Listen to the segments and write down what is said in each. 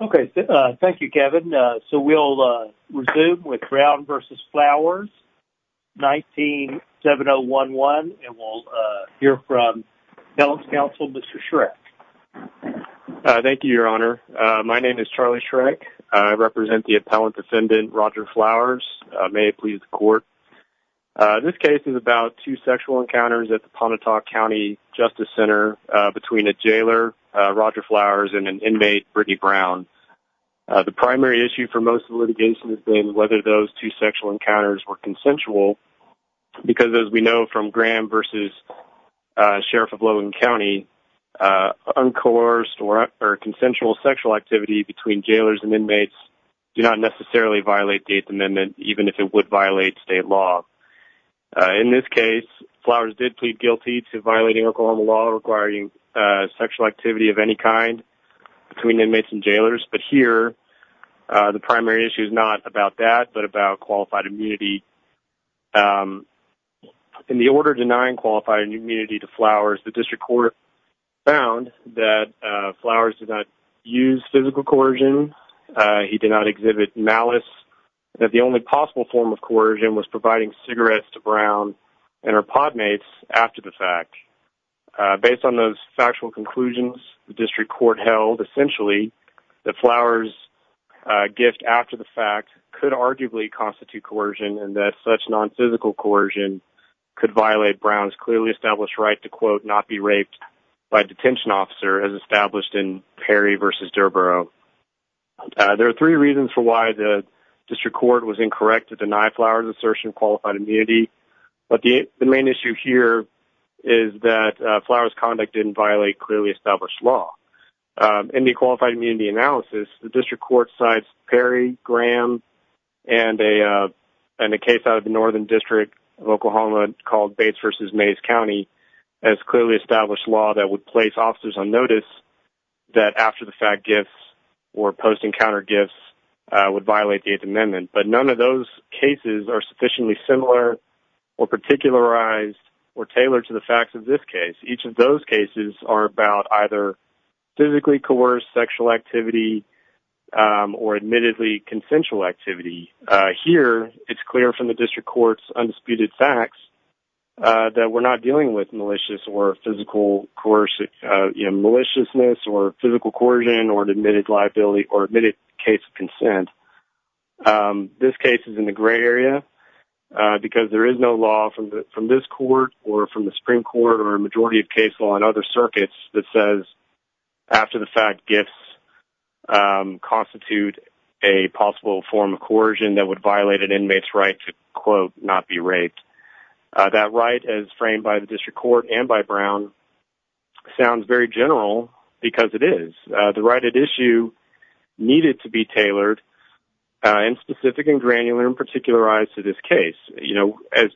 Okay, thank you, Kevin. So, we'll resume with Brown v. Flowers, 197011, and we'll hear from Appellant's Counsel, Mr. Schreck. Thank you, Your Honor. My name is Charlie Schreck. I represent the Appellant Defendant, Roger Flowers. May it please the court. This case is about two sexual encounters at the Pontotoc County Justice Center between a jailer, Roger Flowers, and an inmate, Brittany Brown. The primary issue for most of the litigation has been whether those two sexual encounters were consensual because, as we know from Graham v. Sheriff of Logan County, uncoerced or consensual sexual activity between jailers and inmates do not necessarily violate the Eighth Amendment, even if it would violate state law. In this case, Flowers did plead guilty to violating Oklahoma law requiring sexual activity of any kind between inmates and jailers, but here, the primary issue is not about that, but about qualified immunity. In the order denying qualified immunity to Flowers, the district court found that Flowers did not use physical coercion. He did not exhibit malice. The only possible form of coercion was providing cigarettes to Brown and her pod mates after the fact. Based on those factual conclusions, the district court held, essentially, that Flowers' gift after the fact could arguably constitute coercion and that such non-physical coercion could violate Brown's clearly established right to, quote, not be raped by a detention officer, as established in Perry v. Durrboro. There are three reasons for why the district court was incorrect to deny Flowers' assertion of immunity, but the main issue here is that Flowers' conduct didn't violate clearly established law. In the qualified immunity analysis, the district court cites Perry, Graham, and a case out of the Northern District of Oklahoma called Bates v. Mays County as clearly established law that would place officers on notice that after-the-fact gifts or post-encounter gifts would violate the Eighth Amendment, but none of those cases are sufficiently similar or particularized or tailored to the facts of this case. Each of those cases are about either physically coerced sexual activity or admittedly consensual activity. Here, it's clear from the district court's undisputed facts that we're not dealing with malicious or physical coercion, you know, maliciousness or physical coercion or an consent. This case is in the gray area because there is no law from this court or from the Supreme Court or a majority of case law in other circuits that says after-the-fact gifts constitute a possible form of coercion that would violate an inmate's right to, quote, not be raped. That right, as framed by the district court and by Brown, sounds very general because it is. The right at issue needed to be tailored and specific and granular and particularized to this case. You know, as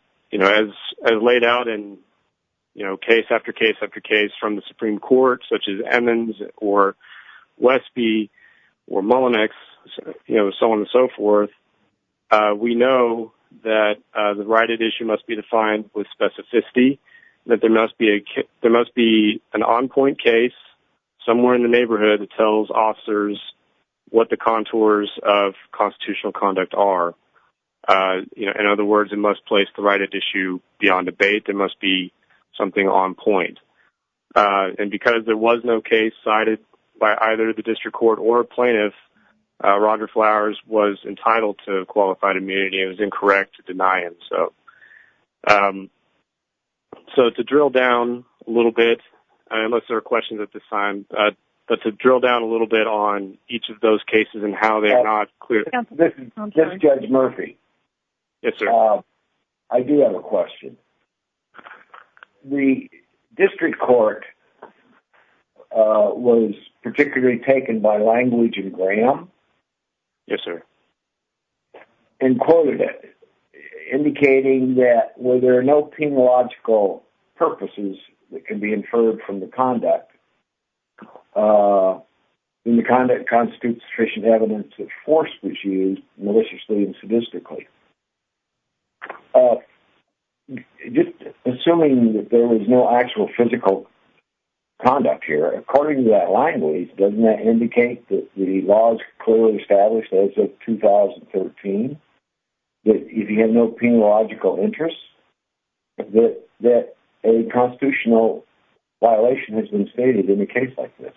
laid out in, you know, case after case after case from the Supreme Court, such as Emmons or Westby or Mullinex, you know, so on and so forth, we know that the right at issue must be defined with specificity, that there must be an on-point case somewhere in the neighborhood that tells officers what the contours of constitutional conduct are. You know, in other words, it must place the right at issue beyond debate. There must be something on point. And because there was no case cited by either the district court or a plaintiff, Roger Flowers was entitled to qualified immunity. It was incorrect to deny it. So to drill down a little bit, unless there are questions at this time, but to drill down a little bit on each of those cases and how they're not clear. This is Judge Murphy. Yes, sir. I do have a question. The district court was particularly taken by language and gram. Yes, sir. And quoted it, indicating that where there are no penological purposes that can be inferred from the conduct, and the conduct constitutes sufficient evidence of force which is used maliciously and sadistically. Just assuming that there was no actual physical conduct here, according to that language, doesn't that indicate that the laws clearly established as of 2013, that if you had no penological interests, that a constitutional violation has been stated in a case like this?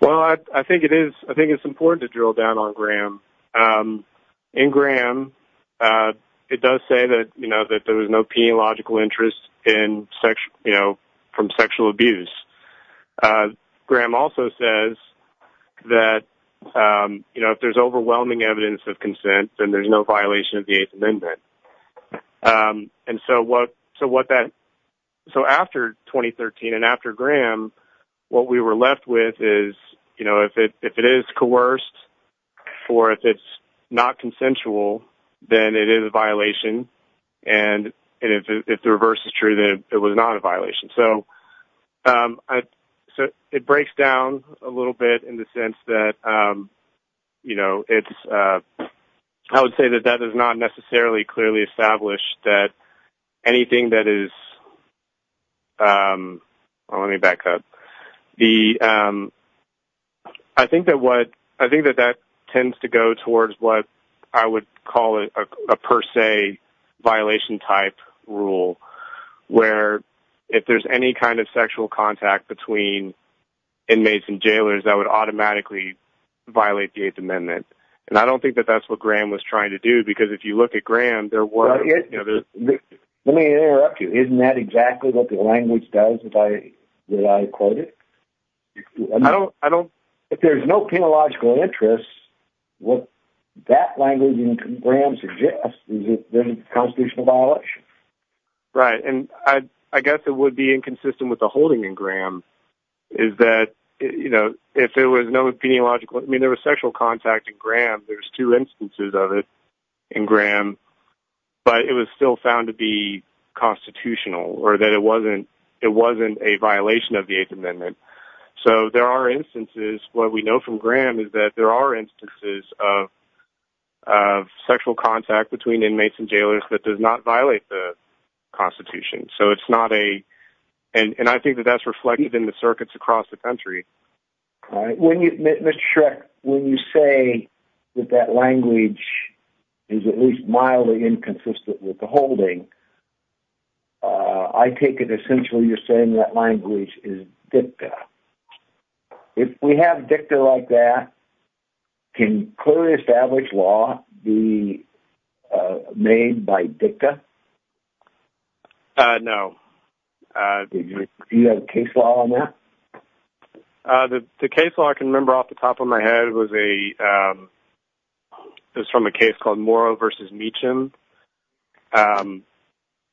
Well, I think it is. I think it's important to drill down on gram. In gram, it does say that, you know, that there was no interest from sexual abuse. Gram also says that, you know, if there's overwhelming evidence of consent, then there's no violation of the Eighth Amendment. So after 2013 and after gram, what we were left with is, you know, if it is coerced or if it's not consensual, then it is a violation. And if the reverse is true, then it was not a violation. So it breaks down a little bit in the sense that, you know, it's—I would say that that is not necessarily clearly established that anything that is—let me back up. I think that what—I think that that tends to go towards what I would call a per se violation type rule, where if there's any kind of sexual contact between inmates and jailers, that would automatically violate the Eighth Amendment. And I don't think that that's what gram was trying to do, because if you look at gram, there was— let me interrupt you. Isn't that exactly what the language does that I quoted? If there's no peniological interest, what that language in gram suggests is a constitutional violation. Right. And I guess it would be inconsistent with the holding in gram is that, you know, if there was no peniological—I mean, there was sexual contact in gram. There's two instances of it in gram, but it was still found to be constitutional, or that it wasn't a violation of the Eighth Amendment. So there are instances—what we know from gram is that there are instances of sexual contact between inmates and jailers that does not violate the Constitution. So it's not a—and I think that that's reflected in the circuits across the country. All right. Mr. Shreck, when you say that that language is at least mildly inconsistent with the holding, I take it essentially you're saying that language is dicta. If we have dicta like that, can clearly established law be made by dicta? Uh, no. Do you have case law on that? The case law I can remember off the top of my head was from a case called Morrow v. Meacham. I think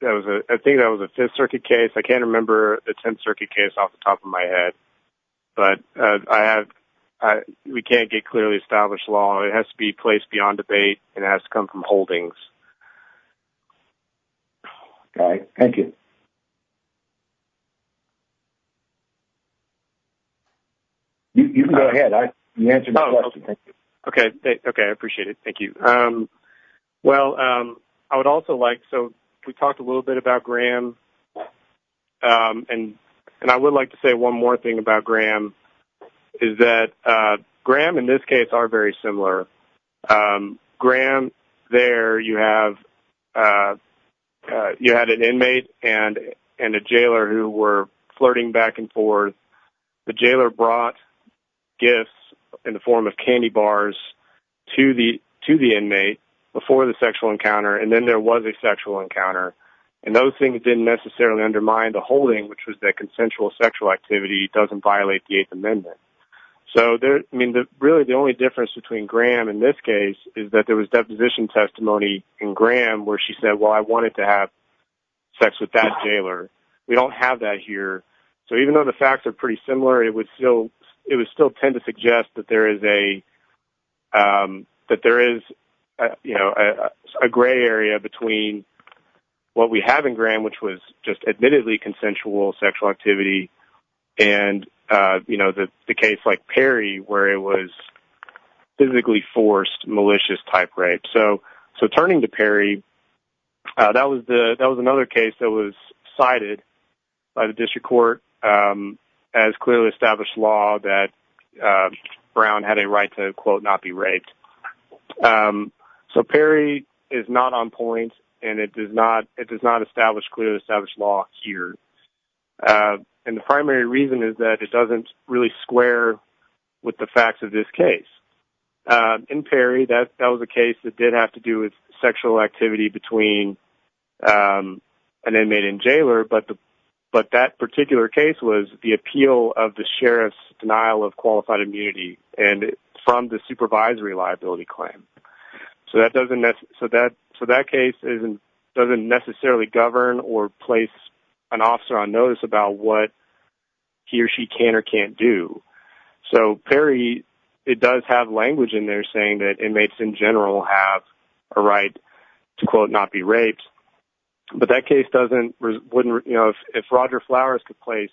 that was a Fifth Circuit case. I can't remember the Tenth Circuit case off the top of my head, but we can't get clearly established law. It has to be placed beyond debate. It has to be—you can go ahead. You answered my question. Okay. Okay. I appreciate it. Thank you. Well, I would also like—so we talked a little bit about gram, and I would like to say one more thing about gram is that gram in this case are very similar. Um, gram, there you have—you had an inmate and a jailer who were flirting back and forth. The jailer brought gifts in the form of candy bars to the inmate before the sexual encounter, and then there was a sexual encounter. And those things didn't necessarily undermine the holding, which was that consensual sexual activity doesn't violate the Eighth Amendment. So, I mean, really the only difference between gram in this case is that there was deposition testimony in gram where she said, well, I wanted to have sex with that jailer. We don't have that here. So even though the facts are pretty similar, it would still tend to suggest that there is a gray area between what we have in gram, which was just admittedly consensual sexual activity and, you know, the case like Perry where it was physically forced malicious type rape. So turning to Perry, that was another case that was cited by the district court as clearly established law that Brown had a right to, quote, not be raped. So Perry is not on point, and it does not establish clearly established law here. And the primary reason is that it doesn't really square with the facts of this case. In Perry, that was a case that did have to do with sexual activity between an inmate and jailer, but that particular case was the appeal of the sheriff's denial of qualified immunity from the supervisory liability claim. So that case doesn't necessarily govern or place an officer on notice about what he or she can or can't do. So Perry, it does have language in there saying that inmates in general have a right to, quote, not be raped. But that case doesn't, wouldn't, you know, if Roger Flowers could place,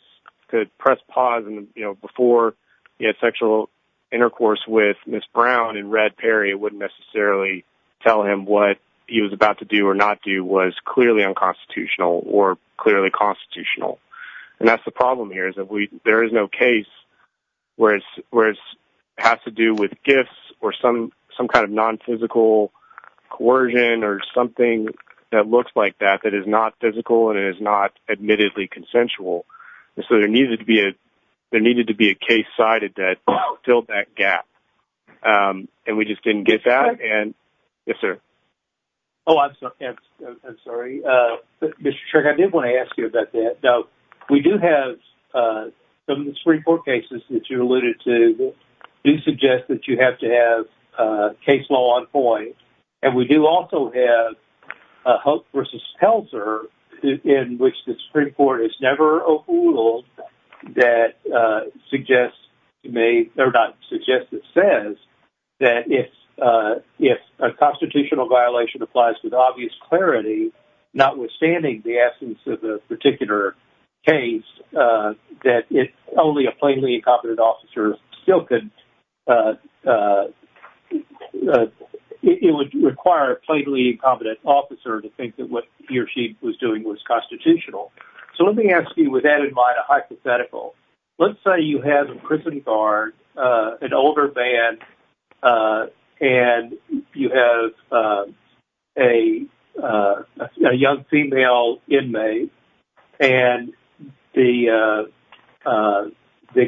could press pause, and, you know, before he had sexual intercourse with Ms. Brown and read Perry, it wouldn't necessarily tell him what he was about to do or not do was clearly unconstitutional or clearly constitutional. And that's the problem here is that there is no case where it has to do with gifts or some kind of nonphysical coercion or something that looks like that that is not physical and is not admittedly consensual. So there needed to be a case cited that filled that gap. And we just didn't get that. And, yes, sir? Oh, I'm sorry. Mr. Shirk, I did want to ask you about that. Now, we do have some of the Supreme Court cases that you alluded to do suggest that you have to have case law on point. And we do also have Hope v. Helzer in which the Supreme Court has never appealed that suggests, made, or not suggests, it says that if a constitutional violation applies with obvious clarity, notwithstanding the essence of the particular case, that if only a plainly incompetent officer still could, it would require a plainly incompetent officer to think that what he or she was doing was constitutional. So let me ask you with that in mind a hypothetical. Let's say you have a prison guard, an older man, and you have a young female inmate. And the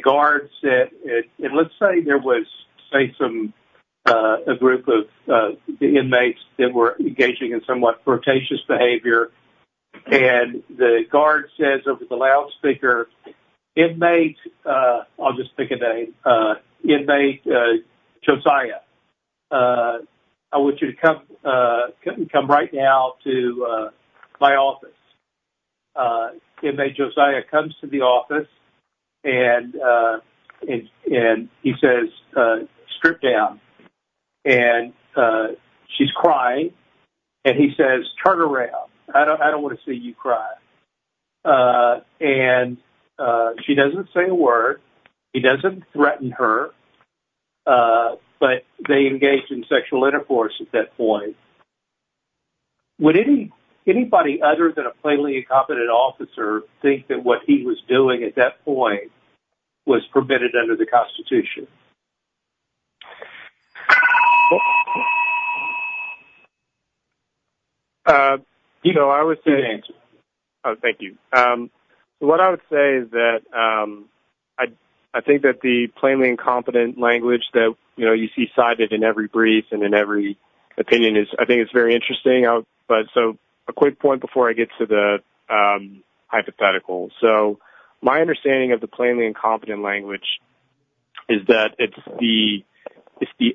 guard said, and let's say there was, say, a group of inmates that were engaging in somewhat a, I'll just pick a name, inmate Josiah. I want you to come right now to my office. Inmate Josiah comes to the office and he says, strip down. And she's crying. And he says, turn around. I don't want to see you cry. And she doesn't say a word. He doesn't threaten her. But they engaged in sexual intercourse at that point. Would anybody other than a plainly incompetent officer think that what he was doing at that point was permitted under the Constitution? You know, I would say... Go ahead, Andrew. Thank you. What I would say is that I think that the plainly incompetent language that, you know, you see cited in every brief and in every opinion is, I think it's very interesting. So a quick point before I get to the hypothetical. So my understanding of the plainly incompetent language is that it's the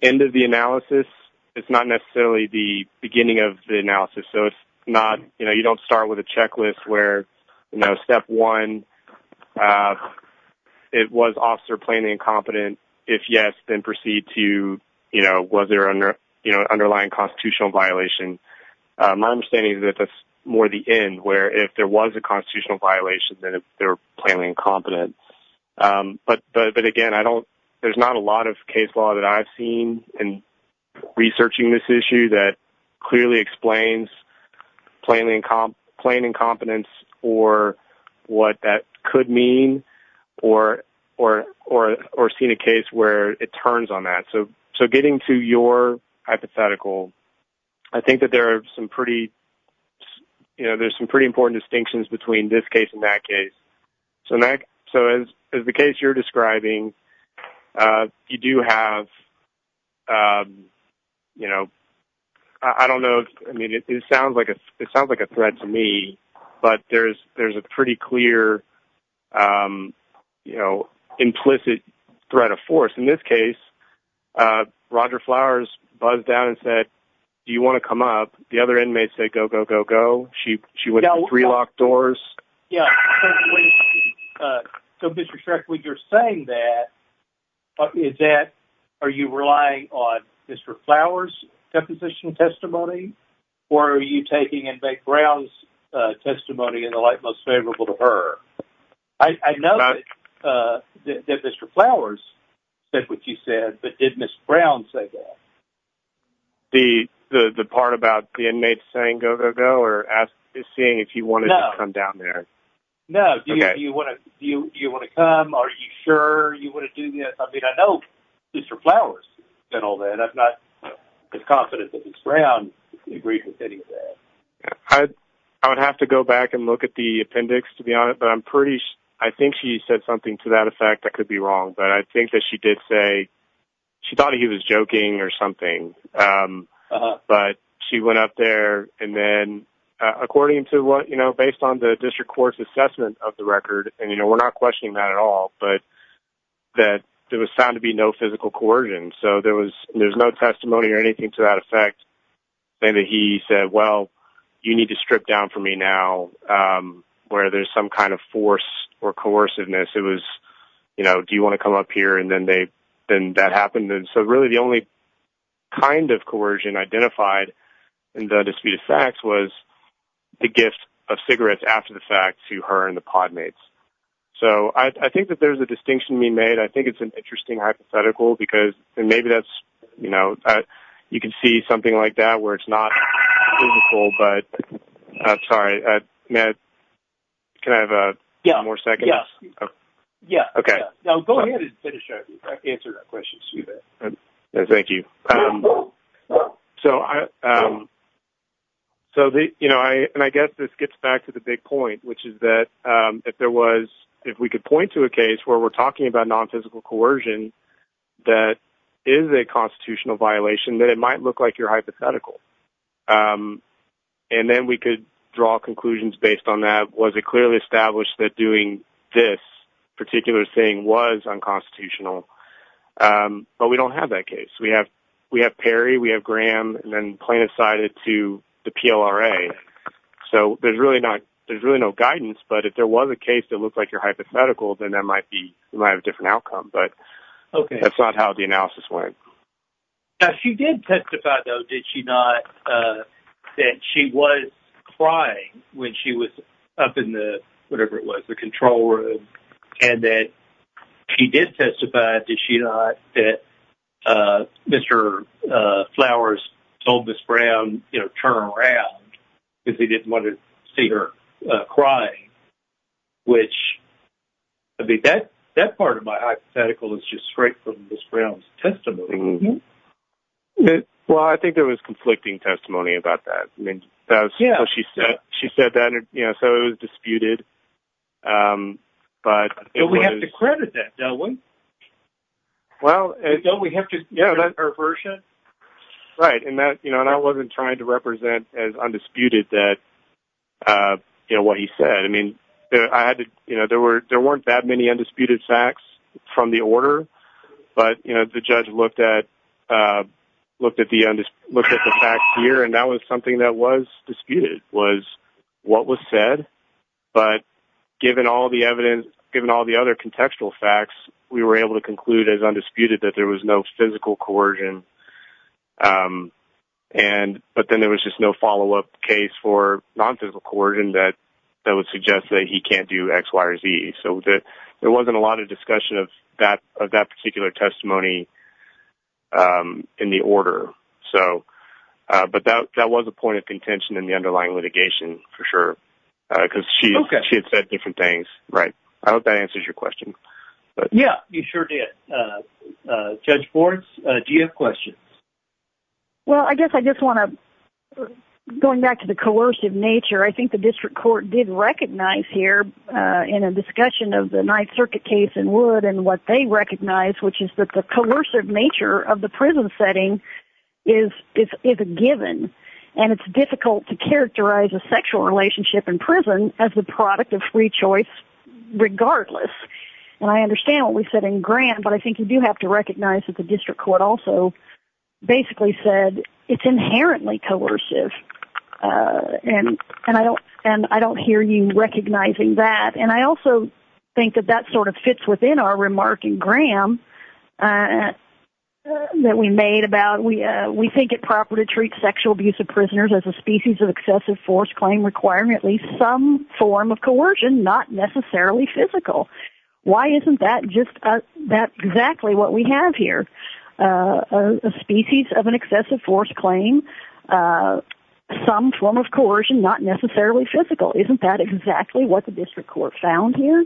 end of the analysis. It's not necessarily the beginning of the analysis. So it's not, you know, you don't start with a checklist where, you know, step one, it was officer plainly incompetent. If yes, then proceed to, you know, was there an underlying constitutional violation. My understanding is that that's more the end, where if there was a but again, I don't, there's not a lot of case law that I've seen in researching this issue that clearly explains plainly incompetence or what that could mean or seen a case where it turns on that. So getting to your hypothetical, I think that there are some pretty, you know, there's some cases you're describing, you do have, you know, I don't know. I mean, it sounds like a, it sounds like a threat to me, but there's a pretty clear, you know, implicit threat of force. In this case, Roger Flowers buzzed down and said, do you want to come up? The other inmates say, go, go, go, go. She, she went to three locked doors. Yeah. So Mr. Shrek, when you're saying that, is that, are you relying on Mr. Flowers deposition testimony or are you taking inmate Brown's testimony in the light most favorable to her? I know that Mr. Flowers said what you said, but did Ms. Brown say that? The, the, the part about the inmates saying, go, go, go, or as is seeing if you want to come down there. No. Do you want to, do you want to come? Are you sure you want to do this? I mean, I know Mr. Flowers and all that. I'm not as confident that Ms. Brown agreed with any of that. I would have to go back and look at the appendix to be honest, but I'm pretty sure, I think she said something to that effect. I could be wrong, but I think that she did say she thought he was joking or something. Um, but she went up there and then, uh, according to what, you know, based on the district court's assessment of the record, and, you know, we're not questioning that at all, but that there was found to be no physical coercion. So there was, there's no testimony or anything to that effect. And he said, well, you need to strip down for me now, um, where there's some kind of force or coerciveness. It comes up here and then they, then that happened. And so really the only kind of coercion identified in the dispute of facts was the gift of cigarettes after the fact to her and the pod mates. So I think that there's a distinction being made. I think it's an interesting hypothetical because, and maybe that's, you know, uh, you can see something like that where it's not but I'm sorry, uh, Matt, can I have a more seconds? Yeah. Okay. Thank you. Um, so, um, so the, you know, I, and I guess this gets back to the big point, which is that, um, if there was, if we could point to a case where we're talking about non-physical coercion, that is a constitutional violation, that it might look like you're hypothetical. Um, and then we could draw conclusions based on that. Was it clearly established that doing this particular thing was unconstitutional? Um, but we don't have that case. We have, we have Perry, we have Graham, and then plain decided to the PLRA. So there's really not, there's really no guidance, but if there was a case that looked like you're hypothetical, then that might be, you might have a different outcome, but that's not how the analysis went. Now, she did testify, though, did she not, uh, that she was crying when she was up in the, whatever it was, the control room, and that she did testify, did she not, that, uh, Mr. Flowers told Ms. Brown, you know, turn around because he didn't want to see her crying, which, I mean, that part of my hypothetical is just straight from Ms. Brown's testimony. Well, I think there was conflicting testimony about that. I mean, that's what she said. She said that, you know, so it was disputed, um, but it was... But we have to credit that, don't we? Well... Don't we have to credit her version? Right, and that, you know, and I wasn't trying to represent as undisputed that, uh, you know, what he said. I mean, I had to, you know, there were, there weren't that many undisputed facts from the order, but, you know, the judge looked at, uh, looked at the, looked at the facts here, and that was something that was disputed, was what was said, but given all the evidence, given all the other contextual facts, we were able to conclude as undisputed that there was no physical coercion, um, and, but then there was just no follow-up case for non-physical coercion that would suggest that he can't do X, Y, or Z. So, there wasn't a lot of discussion of that, of that particular testimony, um, in the order. So, uh, but that, that was a point of contention in the underlying litigation, for sure, because she had said different things. Right. I hope that answers your question. Yeah, you sure did. Uh, Judge Forbes, uh, do you have questions? Well, I guess I just want to, going back to the coercive nature, I think the district court did recognize here, uh, in a discussion of the Ninth Circuit case in Wood and what they recognized, which is that the coercive nature of the prison setting is a given, and it's difficult to characterize a sexual relationship in prison as the product of free choice regardless, and I understand what we said in Grant, but I think you do have to recognize that the district court also basically said it's inherently coercive, uh, and, and I don't, and I don't hear you recognizing that, and I also think that that sort of fits within our remark in Graham, uh, that we made about we, uh, we think it proper to treat sexual abuse of prisoners as a species of excessive force claim requiring at least some form of coercion, not necessarily physical. Why isn't that just, uh, that exactly what we have here, uh, a species of an excessive force claim, uh, some form of coercion, not necessarily physical? Isn't that exactly what the district court found here?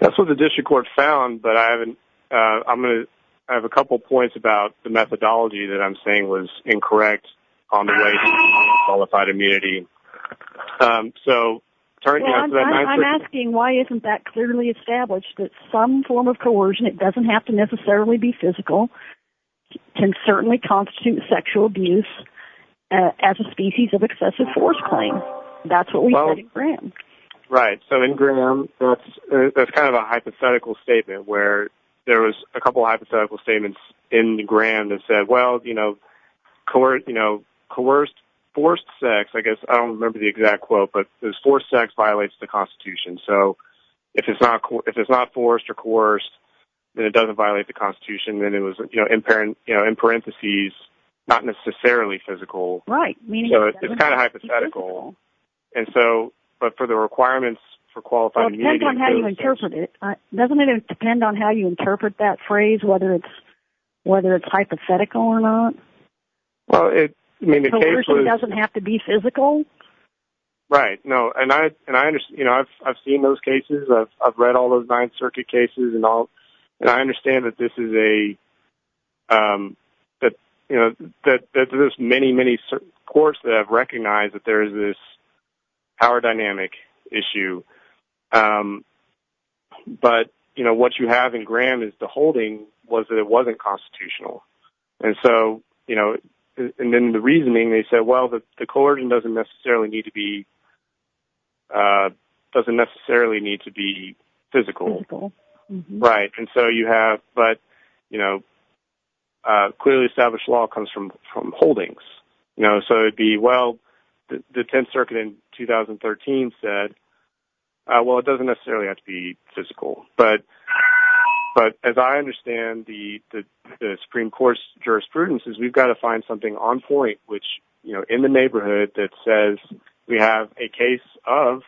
That's what the district court found, but I haven't, uh, I'm going to, I have a couple points about the methodology that I'm saying was incorrect on the qualified immunity. Um, so... I'm asking why isn't that clearly established that some form of coercion, it doesn't have to necessarily be physical, can certainly constitute sexual abuse as a species of excessive force claim. That's what we said in Graham. Right. So in Graham, that's kind of a hypothetical statement where there was a couple hypothetical statements in court, you know, coerced, forced sex, I guess, I don't remember the exact quote, but it was forced sex violates the constitution. So if it's not, if it's not forced or coerced, then it doesn't violate the constitution. Then it was, you know, in parent, you know, in parentheses, not necessarily physical. Right. So it's kind of hypothetical. And so, but for the requirements for qualified... It depends on how you interpret it. Doesn't well, it doesn't have to be physical. Right. No. And I, and I understand, you know, I've, I've seen those cases. I've, I've read all those nine circuit cases and all, and I understand that this is a, um, that, you know, that, that there's many, many courts that have recognized that there is this power dynamic issue. Um, but you know, what you have in Graham is the holding was that it wasn't constitutional. And so, you know, and then the reasoning they said, well, the court doesn't necessarily need to be, uh, doesn't necessarily need to be physical. Right. And so you have, but, you know, uh, clearly established law comes from, from holdings, you know, so it'd be, well, the 10th circuit in 2013 said, uh, well, it doesn't necessarily have to be physical, but, but as I understand the, the Supreme court's jurisprudence is we've got to find something on point, which, you know, in the neighborhood that says we have a case of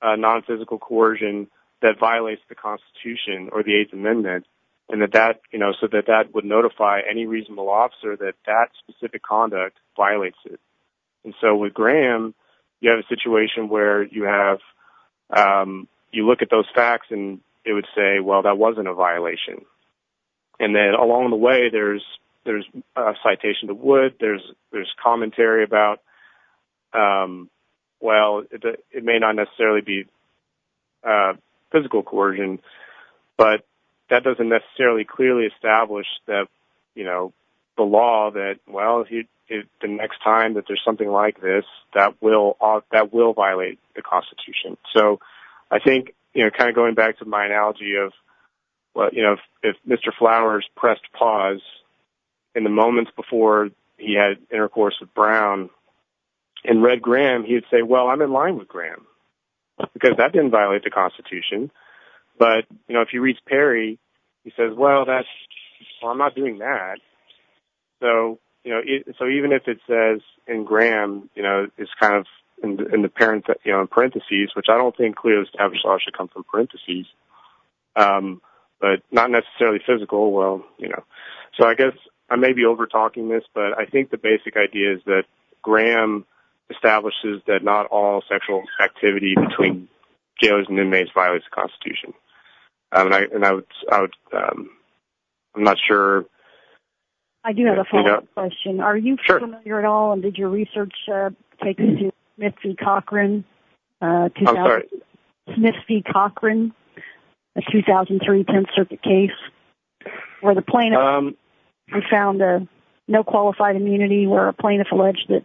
a non-physical coercion that violates the constitution or the eighth amendment. And that, that, you know, so that that would notify any reasonable officer that that specific conduct violates it. And so with Graham, you have a situation where you have, um, you look at those facts and it would say, well, that wasn't a and then along the way, there's, there's a citation to wood. There's, there's commentary about, um, well, it may not necessarily be a physical coercion, but that doesn't necessarily clearly establish that, you know, the law that, well, if you, if the next time that there's something like this, that will, that will violate the constitution. So I think, you know, kind of going back to my analogy of, well, you know, if Mr. Flowers pressed pause in the moments before he had intercourse with Brown and read Graham, he'd say, well, I'm in line with Graham because that didn't violate the constitution. But, you know, if you reach Perry, he says, well, that's, well, I'm not doing that. So, you know, so even if it says in Graham, you know, it's kind of in the parent, you know, in parentheses, which I don't think clearly should come from parentheses, um, but not necessarily physical. Well, you know, so I guess I may be over talking this, but I think the basic idea is that Graham establishes that not all sexual activity between jailers and inmates violates the constitution. And I, and I would, I would, um, I'm not sure. I do have a follow up question. Are you familiar at all? And did your research take into Smith v. Cochran, uh, Smith v. Cochran, a 2003 10th circuit case where the plaintiff found a no qualified immunity where a plaintiff alleged that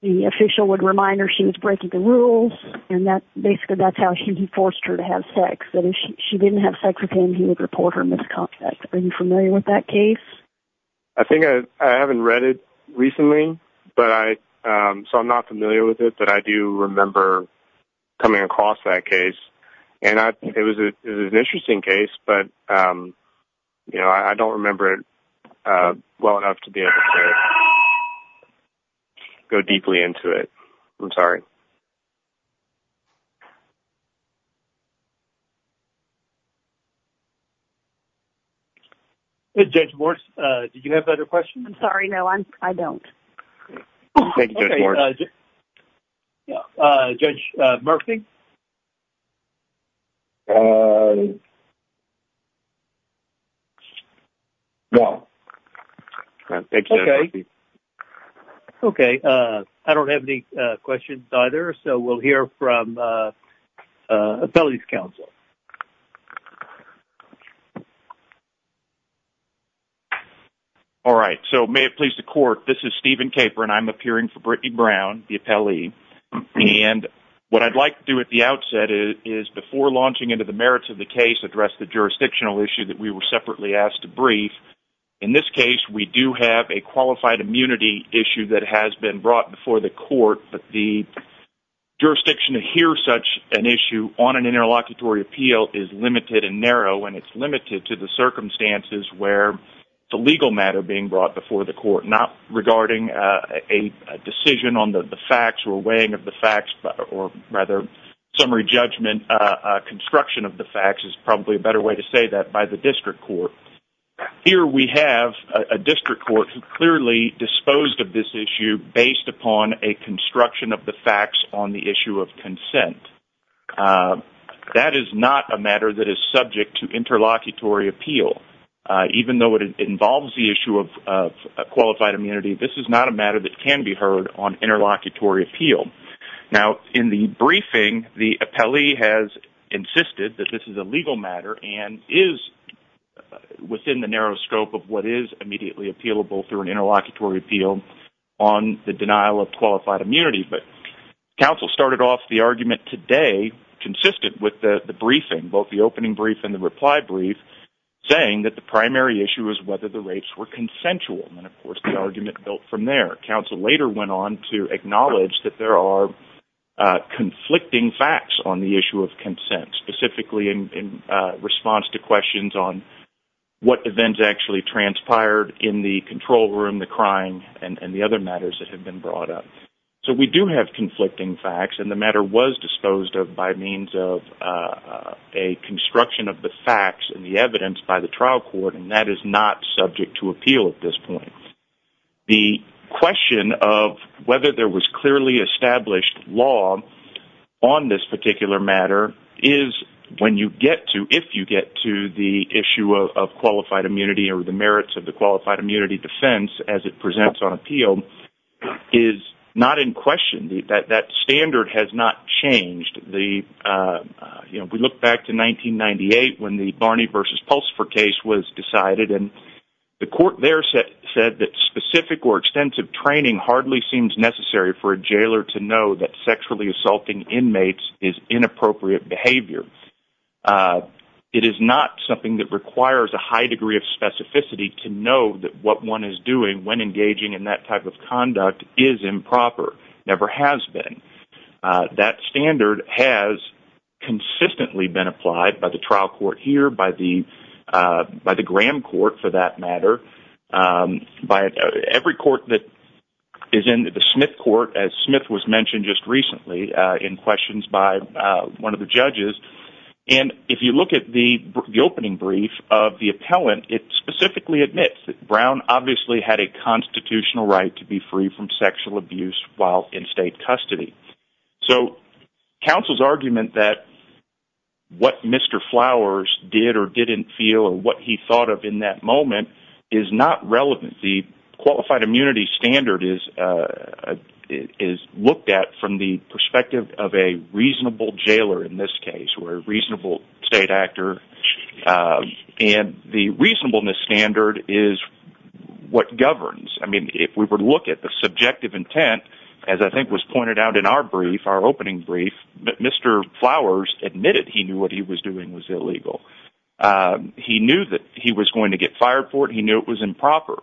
the official would remind her she was breaking the rules. And that basically that's how she forced her to have sex. But if she didn't have sex with him, he would report her misconduct. Are you familiar with that case? I think I haven't read it recently, but I, um, so I'm not familiar with it, but I do remember coming across that case and I think it was an interesting case, but, um, you know, I don't remember it, uh, well enough to be able to go deeply into it. I'm sorry. Judge Morris, uh, did you have another question? I'm sorry. No, I'm, I don't. Yeah. Uh, judge, uh, Murphy. Uh, yeah. Okay. Okay. Uh, I don't have any, uh, questions either. So we'll hear from, uh, uh, appellate counsel. All right. So may it please the court. This is Steven Caper and I'm appearing for the court to address the jurisdictional issue that we were separately asked to brief. In this case, we do have a qualified immunity issue that has been brought before the court, but the jurisdiction to hear such an issue on an interlocutory appeal is limited and narrow, and it's limited to the circumstances where the legal matter being brought before the court, not regarding, uh, a decision on the facts or weighing of the facts or rather summary judgment, uh, uh, construction of the facts is probably a better way to say that by the district court. Here we have a district court who clearly disposed of this issue based upon a construction of the facts on the issue of consent. Uh, that is not a matter that is subject to interlocutory appeal, uh, even though it involves the issue of, of qualified immunity, this is not a matter that can be heard on interlocutory appeal. Now in the briefing, the appellee has insisted that this is a legal matter and is within the narrow scope of what is immediately appealable through an interlocutory appeal on the denial of qualified immunity. But counsel started off the argument today consistent with the briefing, both the opening brief and the reply brief saying that the primary issue is whether the rates were consensual. And of course the argument built from their counsel later went on to acknowledge that there are, uh, conflicting facts on the issue of consent, specifically in response to questions on what events actually transpired in the control room, the crying and the other matters that have been brought up. So we do have conflicting facts and the matter was disposed of by means of, uh, a construction of the facts and the evidence by the trial court. And that is not subject to appeal at this point. The question of whether there was clearly established law on this particular matter is when you get to, if you get to the issue of qualified immunity or the merits of the question, that standard has not changed. The, uh, you know, we look back to 1998 when the Barney versus Pulsifer case was decided and the court there said that specific or extensive training hardly seems necessary for a jailer to know that sexually assaulting inmates is inappropriate behavior. Uh, it is not something that requires a high degree of specificity to know that what is doing when engaging in that type of conduct is improper, never has been, uh, that standard has consistently been applied by the trial court here, by the, uh, by the Graham court for that matter. Um, by every court that is in the Smith court, as Smith was mentioned just recently, uh, in questions by, uh, one of the judges. And if you look at the opening brief of the had a constitutional right to be free from sexual abuse while in state custody. So counsel's argument that what Mr. Flowers did or didn't feel or what he thought of in that moment is not relevant. The qualified immunity standard is, uh, is looked at from the perspective of a reasonable jailer in this case where reasonable state actor, um, and the reasonableness standard is what governs. I mean, if we were to look at the subjective intent, as I think was pointed out in our brief, our opening brief, Mr. Flowers admitted he knew what he was doing was illegal. Um, he knew that he was going to get fired for it. He knew it was improper,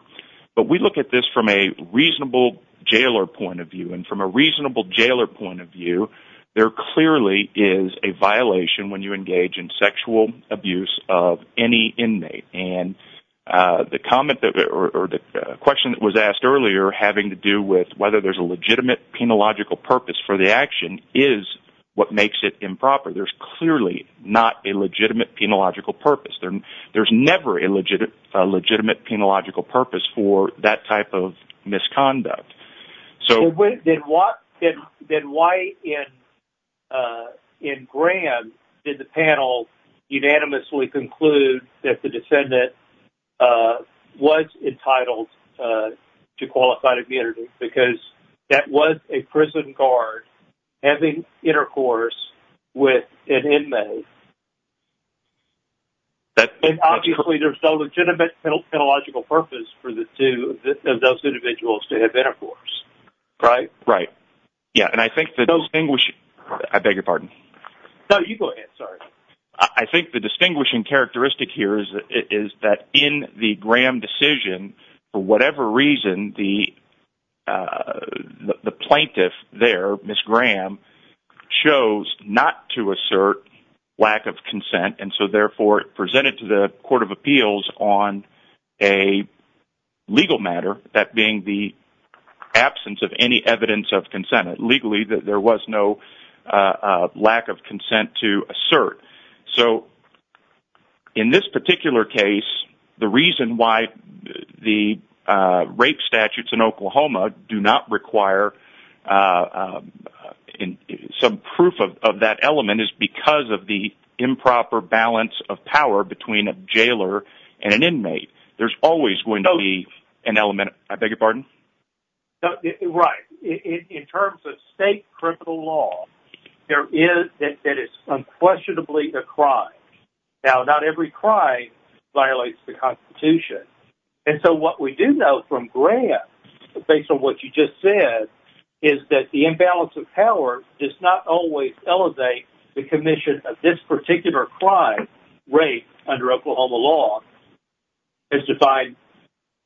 but we look at this from a reasonable jailer point of view. And from a reasonable jailer point of view, there clearly is a violation when you engage in sexual abuse of any inmate. And, uh, the comment that, or the question that was asked earlier having to do with whether there's a legitimate penological purpose for the action is what makes it improper. There's clearly not a legitimate penological purpose. There, there's never a legitimate, a legitimate penological purpose for that type of misconduct. So... Then why in, uh, in Graham did the panel unanimously conclude that the descendant, uh, was entitled, uh, to qualified immunity? Because that was a prison guard having intercourse with an inmate. And obviously there's no legitimate penological purpose for the two of those individuals to have intercourse, right? Right. Yeah. And I think the distinguishing... I beg your pardon. No, you go ahead. Sorry. I think the distinguishing characteristic here is that in the Graham decision, for whatever reason, the, uh, the plaintiff there, Ms. Graham, chose not to assert lack of consent. And so therefore presented to the court of appeals on a legal matter, that being the absence of any evidence of consent legally, that there was no, uh, lack of consent to assert. So in this particular case, the reason why the, uh, rape statutes in Oklahoma do not require, uh, uh, in some proof of that element is because of the improper balance of power between a jailer and an inmate. There's always going to be an element... I beg your pardon? Right. In terms of state critical law, there is that it's unquestionably a crime. Now, not every crime violates the constitution. And so what we do know from Graham, based on what you just said, is that the imbalance of power does not always elevate the commission of this particular crime, rape, under Oklahoma law. It's defined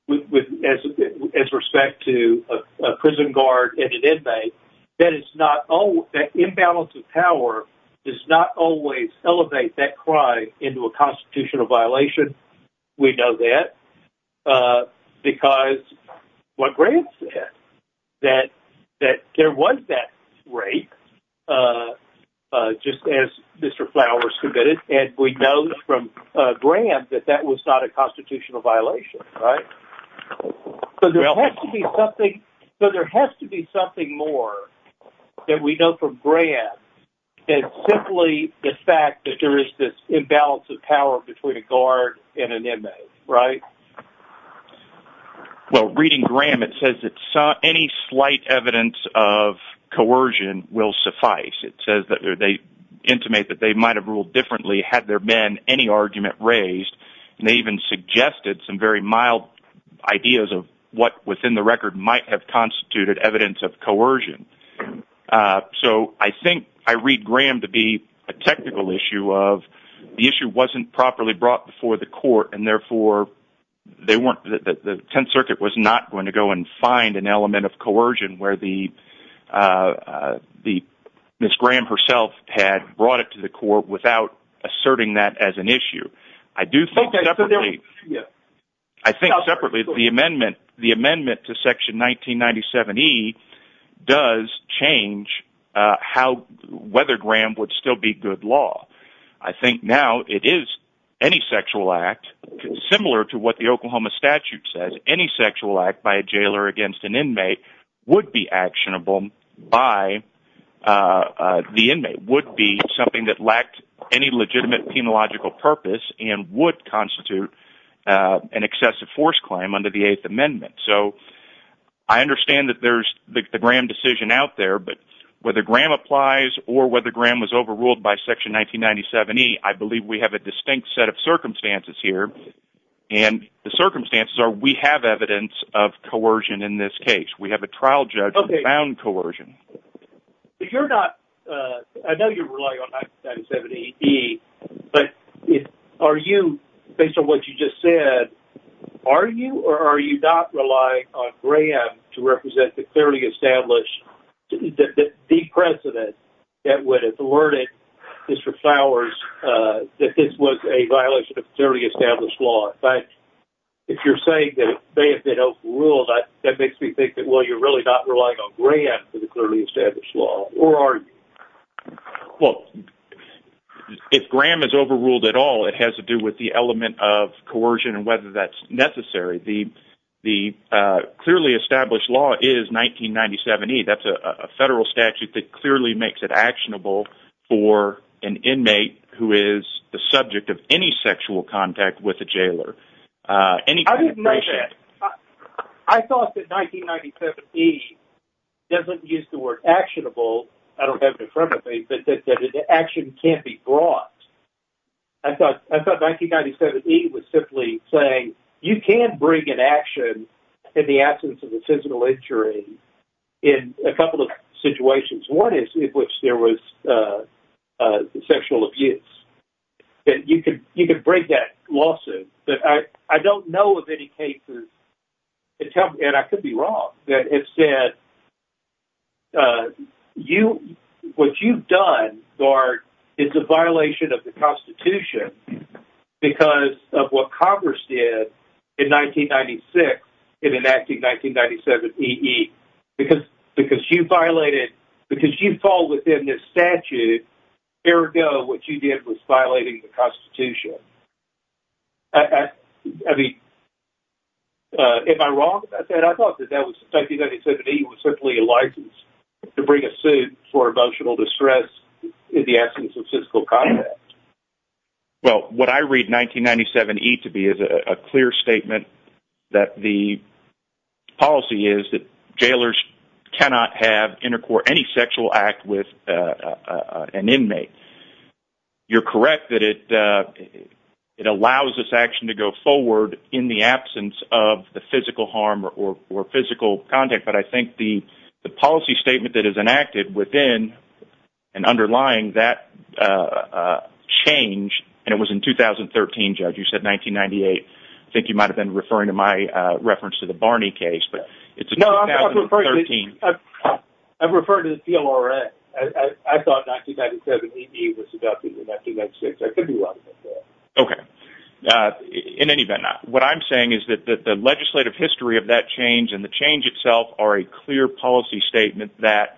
as respect to a prison guard and an inmate that it's not... That imbalance of power does not always elevate that crime into a constitutional violation. We know that, uh, because what Graham said, that there was that rape, uh, just as Mr. Flowers submitted, and we know from Graham that that was not a constitutional violation, right? So there has to be something... So there has to be something more that we know from Graham than simply the fact that there is this imbalance of power between a guard and an inmate, right? Well, reading Graham, it says that any slight evidence of coercion will suffice. It says that they intimate that they might have ruled differently had there been any argument raised, and they even suggested some very mild ideas of what within the record might have constituted evidence of coercion. Uh, so I think I read Graham to be a technical issue of the issue wasn't properly brought before the court, and therefore they weren't... The Tenth Circuit was not going to go and find an element of coercion where the, uh, the... Ms. Graham herself had brought it to the court without asserting that as an issue. I do think separately... does change, uh, how... whether Graham would still be good law. I think now it is any sexual act, similar to what the Oklahoma statute says, any sexual act by a jailer against an inmate would be actionable by, uh, the inmate, would be something that lacked any legitimate penological purpose and would constitute, uh, an excessive force claim under the Eighth Amendment. So I understand that there's the Graham decision out there, but whether Graham applies or whether Graham was overruled by Section 1997E, I believe we have a distinct set of circumstances here, and the circumstances are we have evidence of coercion in this case. We have a trial judge who found coercion. Okay. You're not, uh... I know you're relying on 1997E, but are you, based on what you just said, are you or are you not relying on Graham to represent the clearly established... the precedent that would have alerted District Flowers, uh, that this was a violation of clearly established law? In fact, if you're saying that it may have been overruled, that makes me think that, well, you're really not relying on Graham for the clearly established law, or are you? Well, if Graham is overruled at all, it has to do with the element of coercion and whether that's necessary. The clearly established law is 1997E. That's a federal statute that clearly makes it actionable for an inmate who is the subject of any sexual contact with a jailer, any kind of patient. I didn't know that. I thought that 1997E doesn't use the word actionable. I don't have it in front of me, but that action can't be brought. I thought 1997E was simply saying you can bring an action in the absence of a physical injury in a couple of situations. One in which there was sexual abuse. You can break that lawsuit, but I don't know of any cases, and I could be wrong, that have said, what you've done is a violation of the Constitution because of what Congress did in 1996 in enacting 1997E. Because you fall within this statute, ergo, what you did was violating the Constitution. Am I wrong about that? I thought that 1997E was simply a license to bring a suit for emotional that the policy is that jailers cannot have intercourt, any sexual act with an inmate. You're correct that it allows this action to go forward in the absence of the physical harm or physical contact, but I think the policy statement that is enacted within and underlying that change, and it was in 2013, Judge, you said 1998. I think you might have been referring to my reference to the Barney case, but it's 2013. I've referred to the PLRN. I thought 1997E was adopted in 1996. I could be wrong. Okay. In any event, what I'm saying is that the legislative history of that change and the change itself are a clear policy statement that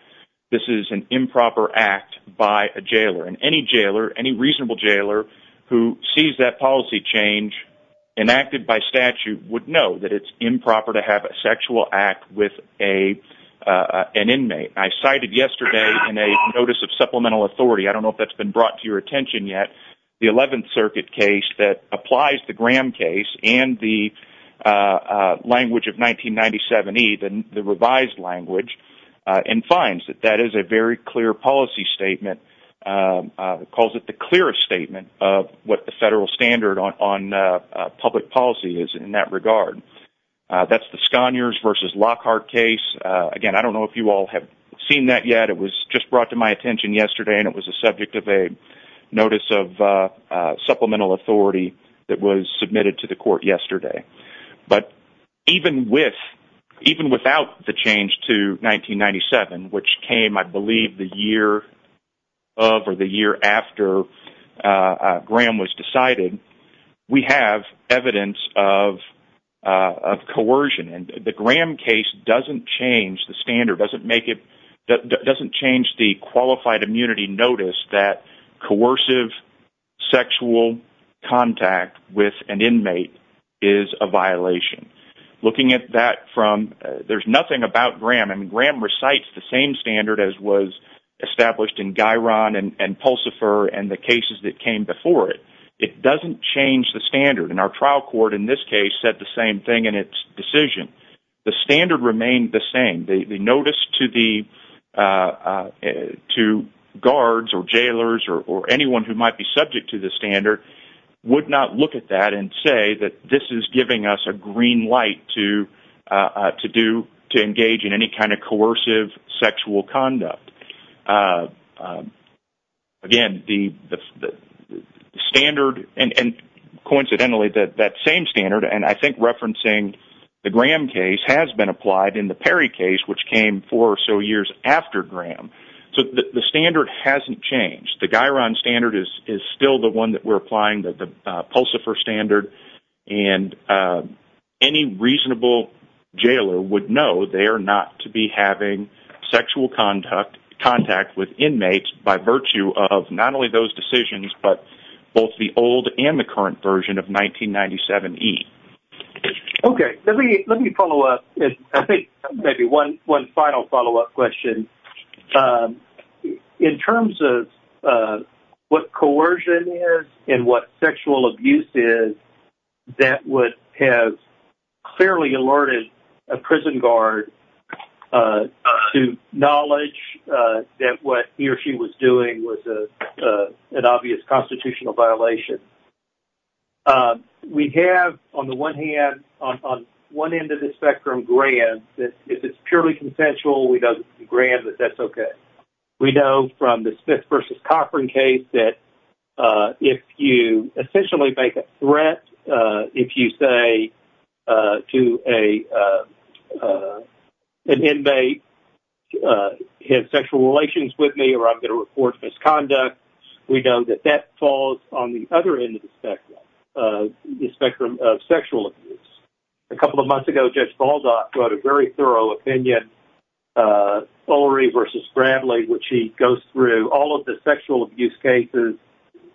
this is an improper act by a jailer, and any reasonable jailer who sees that policy change enacted by statute would know that it's improper to have a sexual act with an inmate. I cited yesterday in a notice of supplemental authority, I don't know if that's been brought to your attention yet, the 11th Circuit case that applies the Graham case and the language of 1997E, the revised language, and finds that that is a very clear policy statement. It calls it the clearest statement of what the federal standard on public policy is in that regard. That's the Scogners v. Lockhart case. Again, I don't know if you all have seen that yet. It was just brought to my attention yesterday, and it was the subject of a notice of supplemental authority that was without the change to 1997, which came, I believe, the year after Graham was decided. We have evidence of coercion, and the Graham case doesn't change the standard, doesn't change the qualified immunity notice that coercive sexual contact with an inmate is a violation. Looking at that from, there's nothing about Graham, and Graham recites the same standard as was established in Guiron and Pulsifer and the cases that came before it. It doesn't change the standard, and our trial court in this case said the same thing in its decision. The standard remained the same. The notice to the, to guards or jailers or anyone who might be subject to the do, to engage in any kind of coercive sexual conduct. Again, the standard, and coincidentally, that same standard, and I think referencing the Graham case, has been applied in the Perry case, which came four or so years after Graham. The standard hasn't changed. The Guiron standard is still the one that we're applying, the Pulsifer standard, and any reasonable jailer would know they are not to be having sexual contact with inmates by virtue of not only those decisions, but both the old and the current version of 1997E. Okay, let me follow up. I think maybe one final follow-up question. In terms of what coercion is and what sexual abuse is, that would have clearly alerted a prison guard to knowledge that what he or she was doing was an obvious constitutional violation. We have, on the one hand, on one end of the spectrum, Graham. If it's purely consensual, we know that it's Graham, but that's okay. We know from the Smith v. Cochran case that if you essentially make a threat, if you say to an inmate, he has sexual relations with me or I'm going to report misconduct, we know that that falls on the other end of the spectrum, the spectrum of sexual abuse. A couple of months ago, Judge Baldock wrote a very thorough opinion, Ulrey v. Bradley, which he goes through all of the sexual abuse cases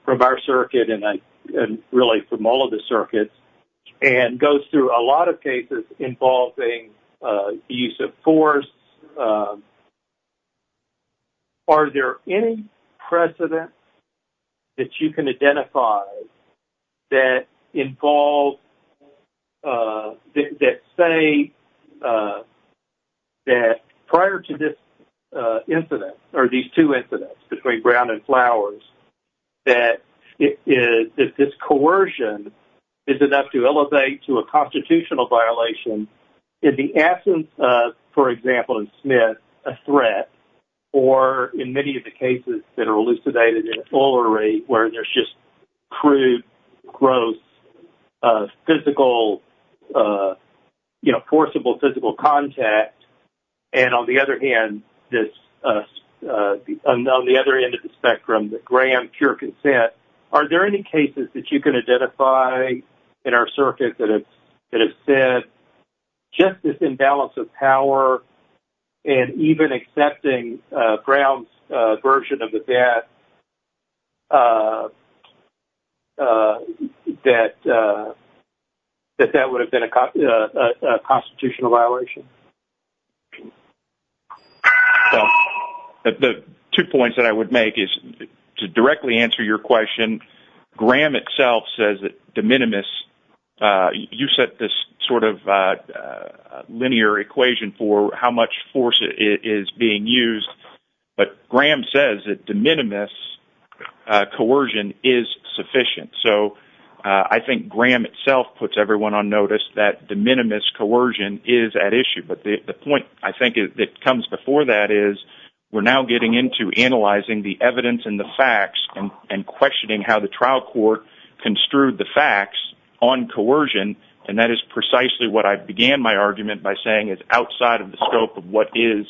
from our circuit, and really from all of the circuits, and goes through a lot of cases involving use of force. Are there any precedents that you can identify that say that prior to this incident or these two incidents between Brown and Flowers, that this coercion is enough to elevate to a constitutional violation, is the absence of, for example, in Smith, a threat, or in many of the cases that are elucidated in Ulrey, where there's just crude, gross, forcible physical contact, and on the other hand, on the other end of the spectrum, Graham, pure consent, are there any cases that you can identify in our circuit that have said, just this imbalance of power, and even accepting Brown's version of the death, that that would have been a constitutional violation? Well, the two points that I would make is, to directly answer your question, Graham itself says that de minimis, you set this sort of linear equation for how much force is being used, but Graham says that de minimis coercion is sufficient. So, I think Graham itself puts everyone on notice that de minimis coercion is at issue, but the point, I think, that comes before that is, we're now getting into analyzing the evidence and the facts and questioning how the trial court construed the facts on coercion, and that is precisely what I began my argument by saying is outside of the scope of what is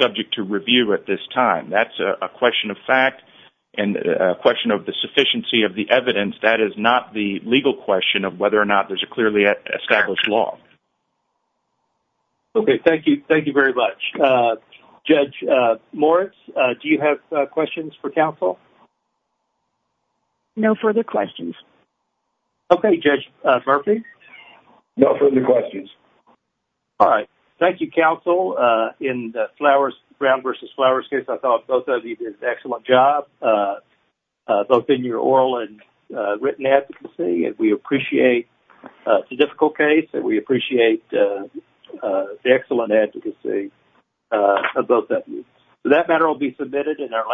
subject to review at this time. That's a question of fact and a question of the sufficiency of the evidence. That is not the legal question of whether or not there's a clearly established law. Okay. Thank you. Thank you very much. Judge Moritz, do you have questions for counsel? No further questions. Okay. Judge Murphy? No further questions. All right. Thank you, counsel. In the Brown versus Flowers case, I thought both of you did an excellent job, both in your oral and written advocacy, and we appreciate the difficult case, and we appreciate the excellent advocacy of both of you. So, that matter will be submitted in our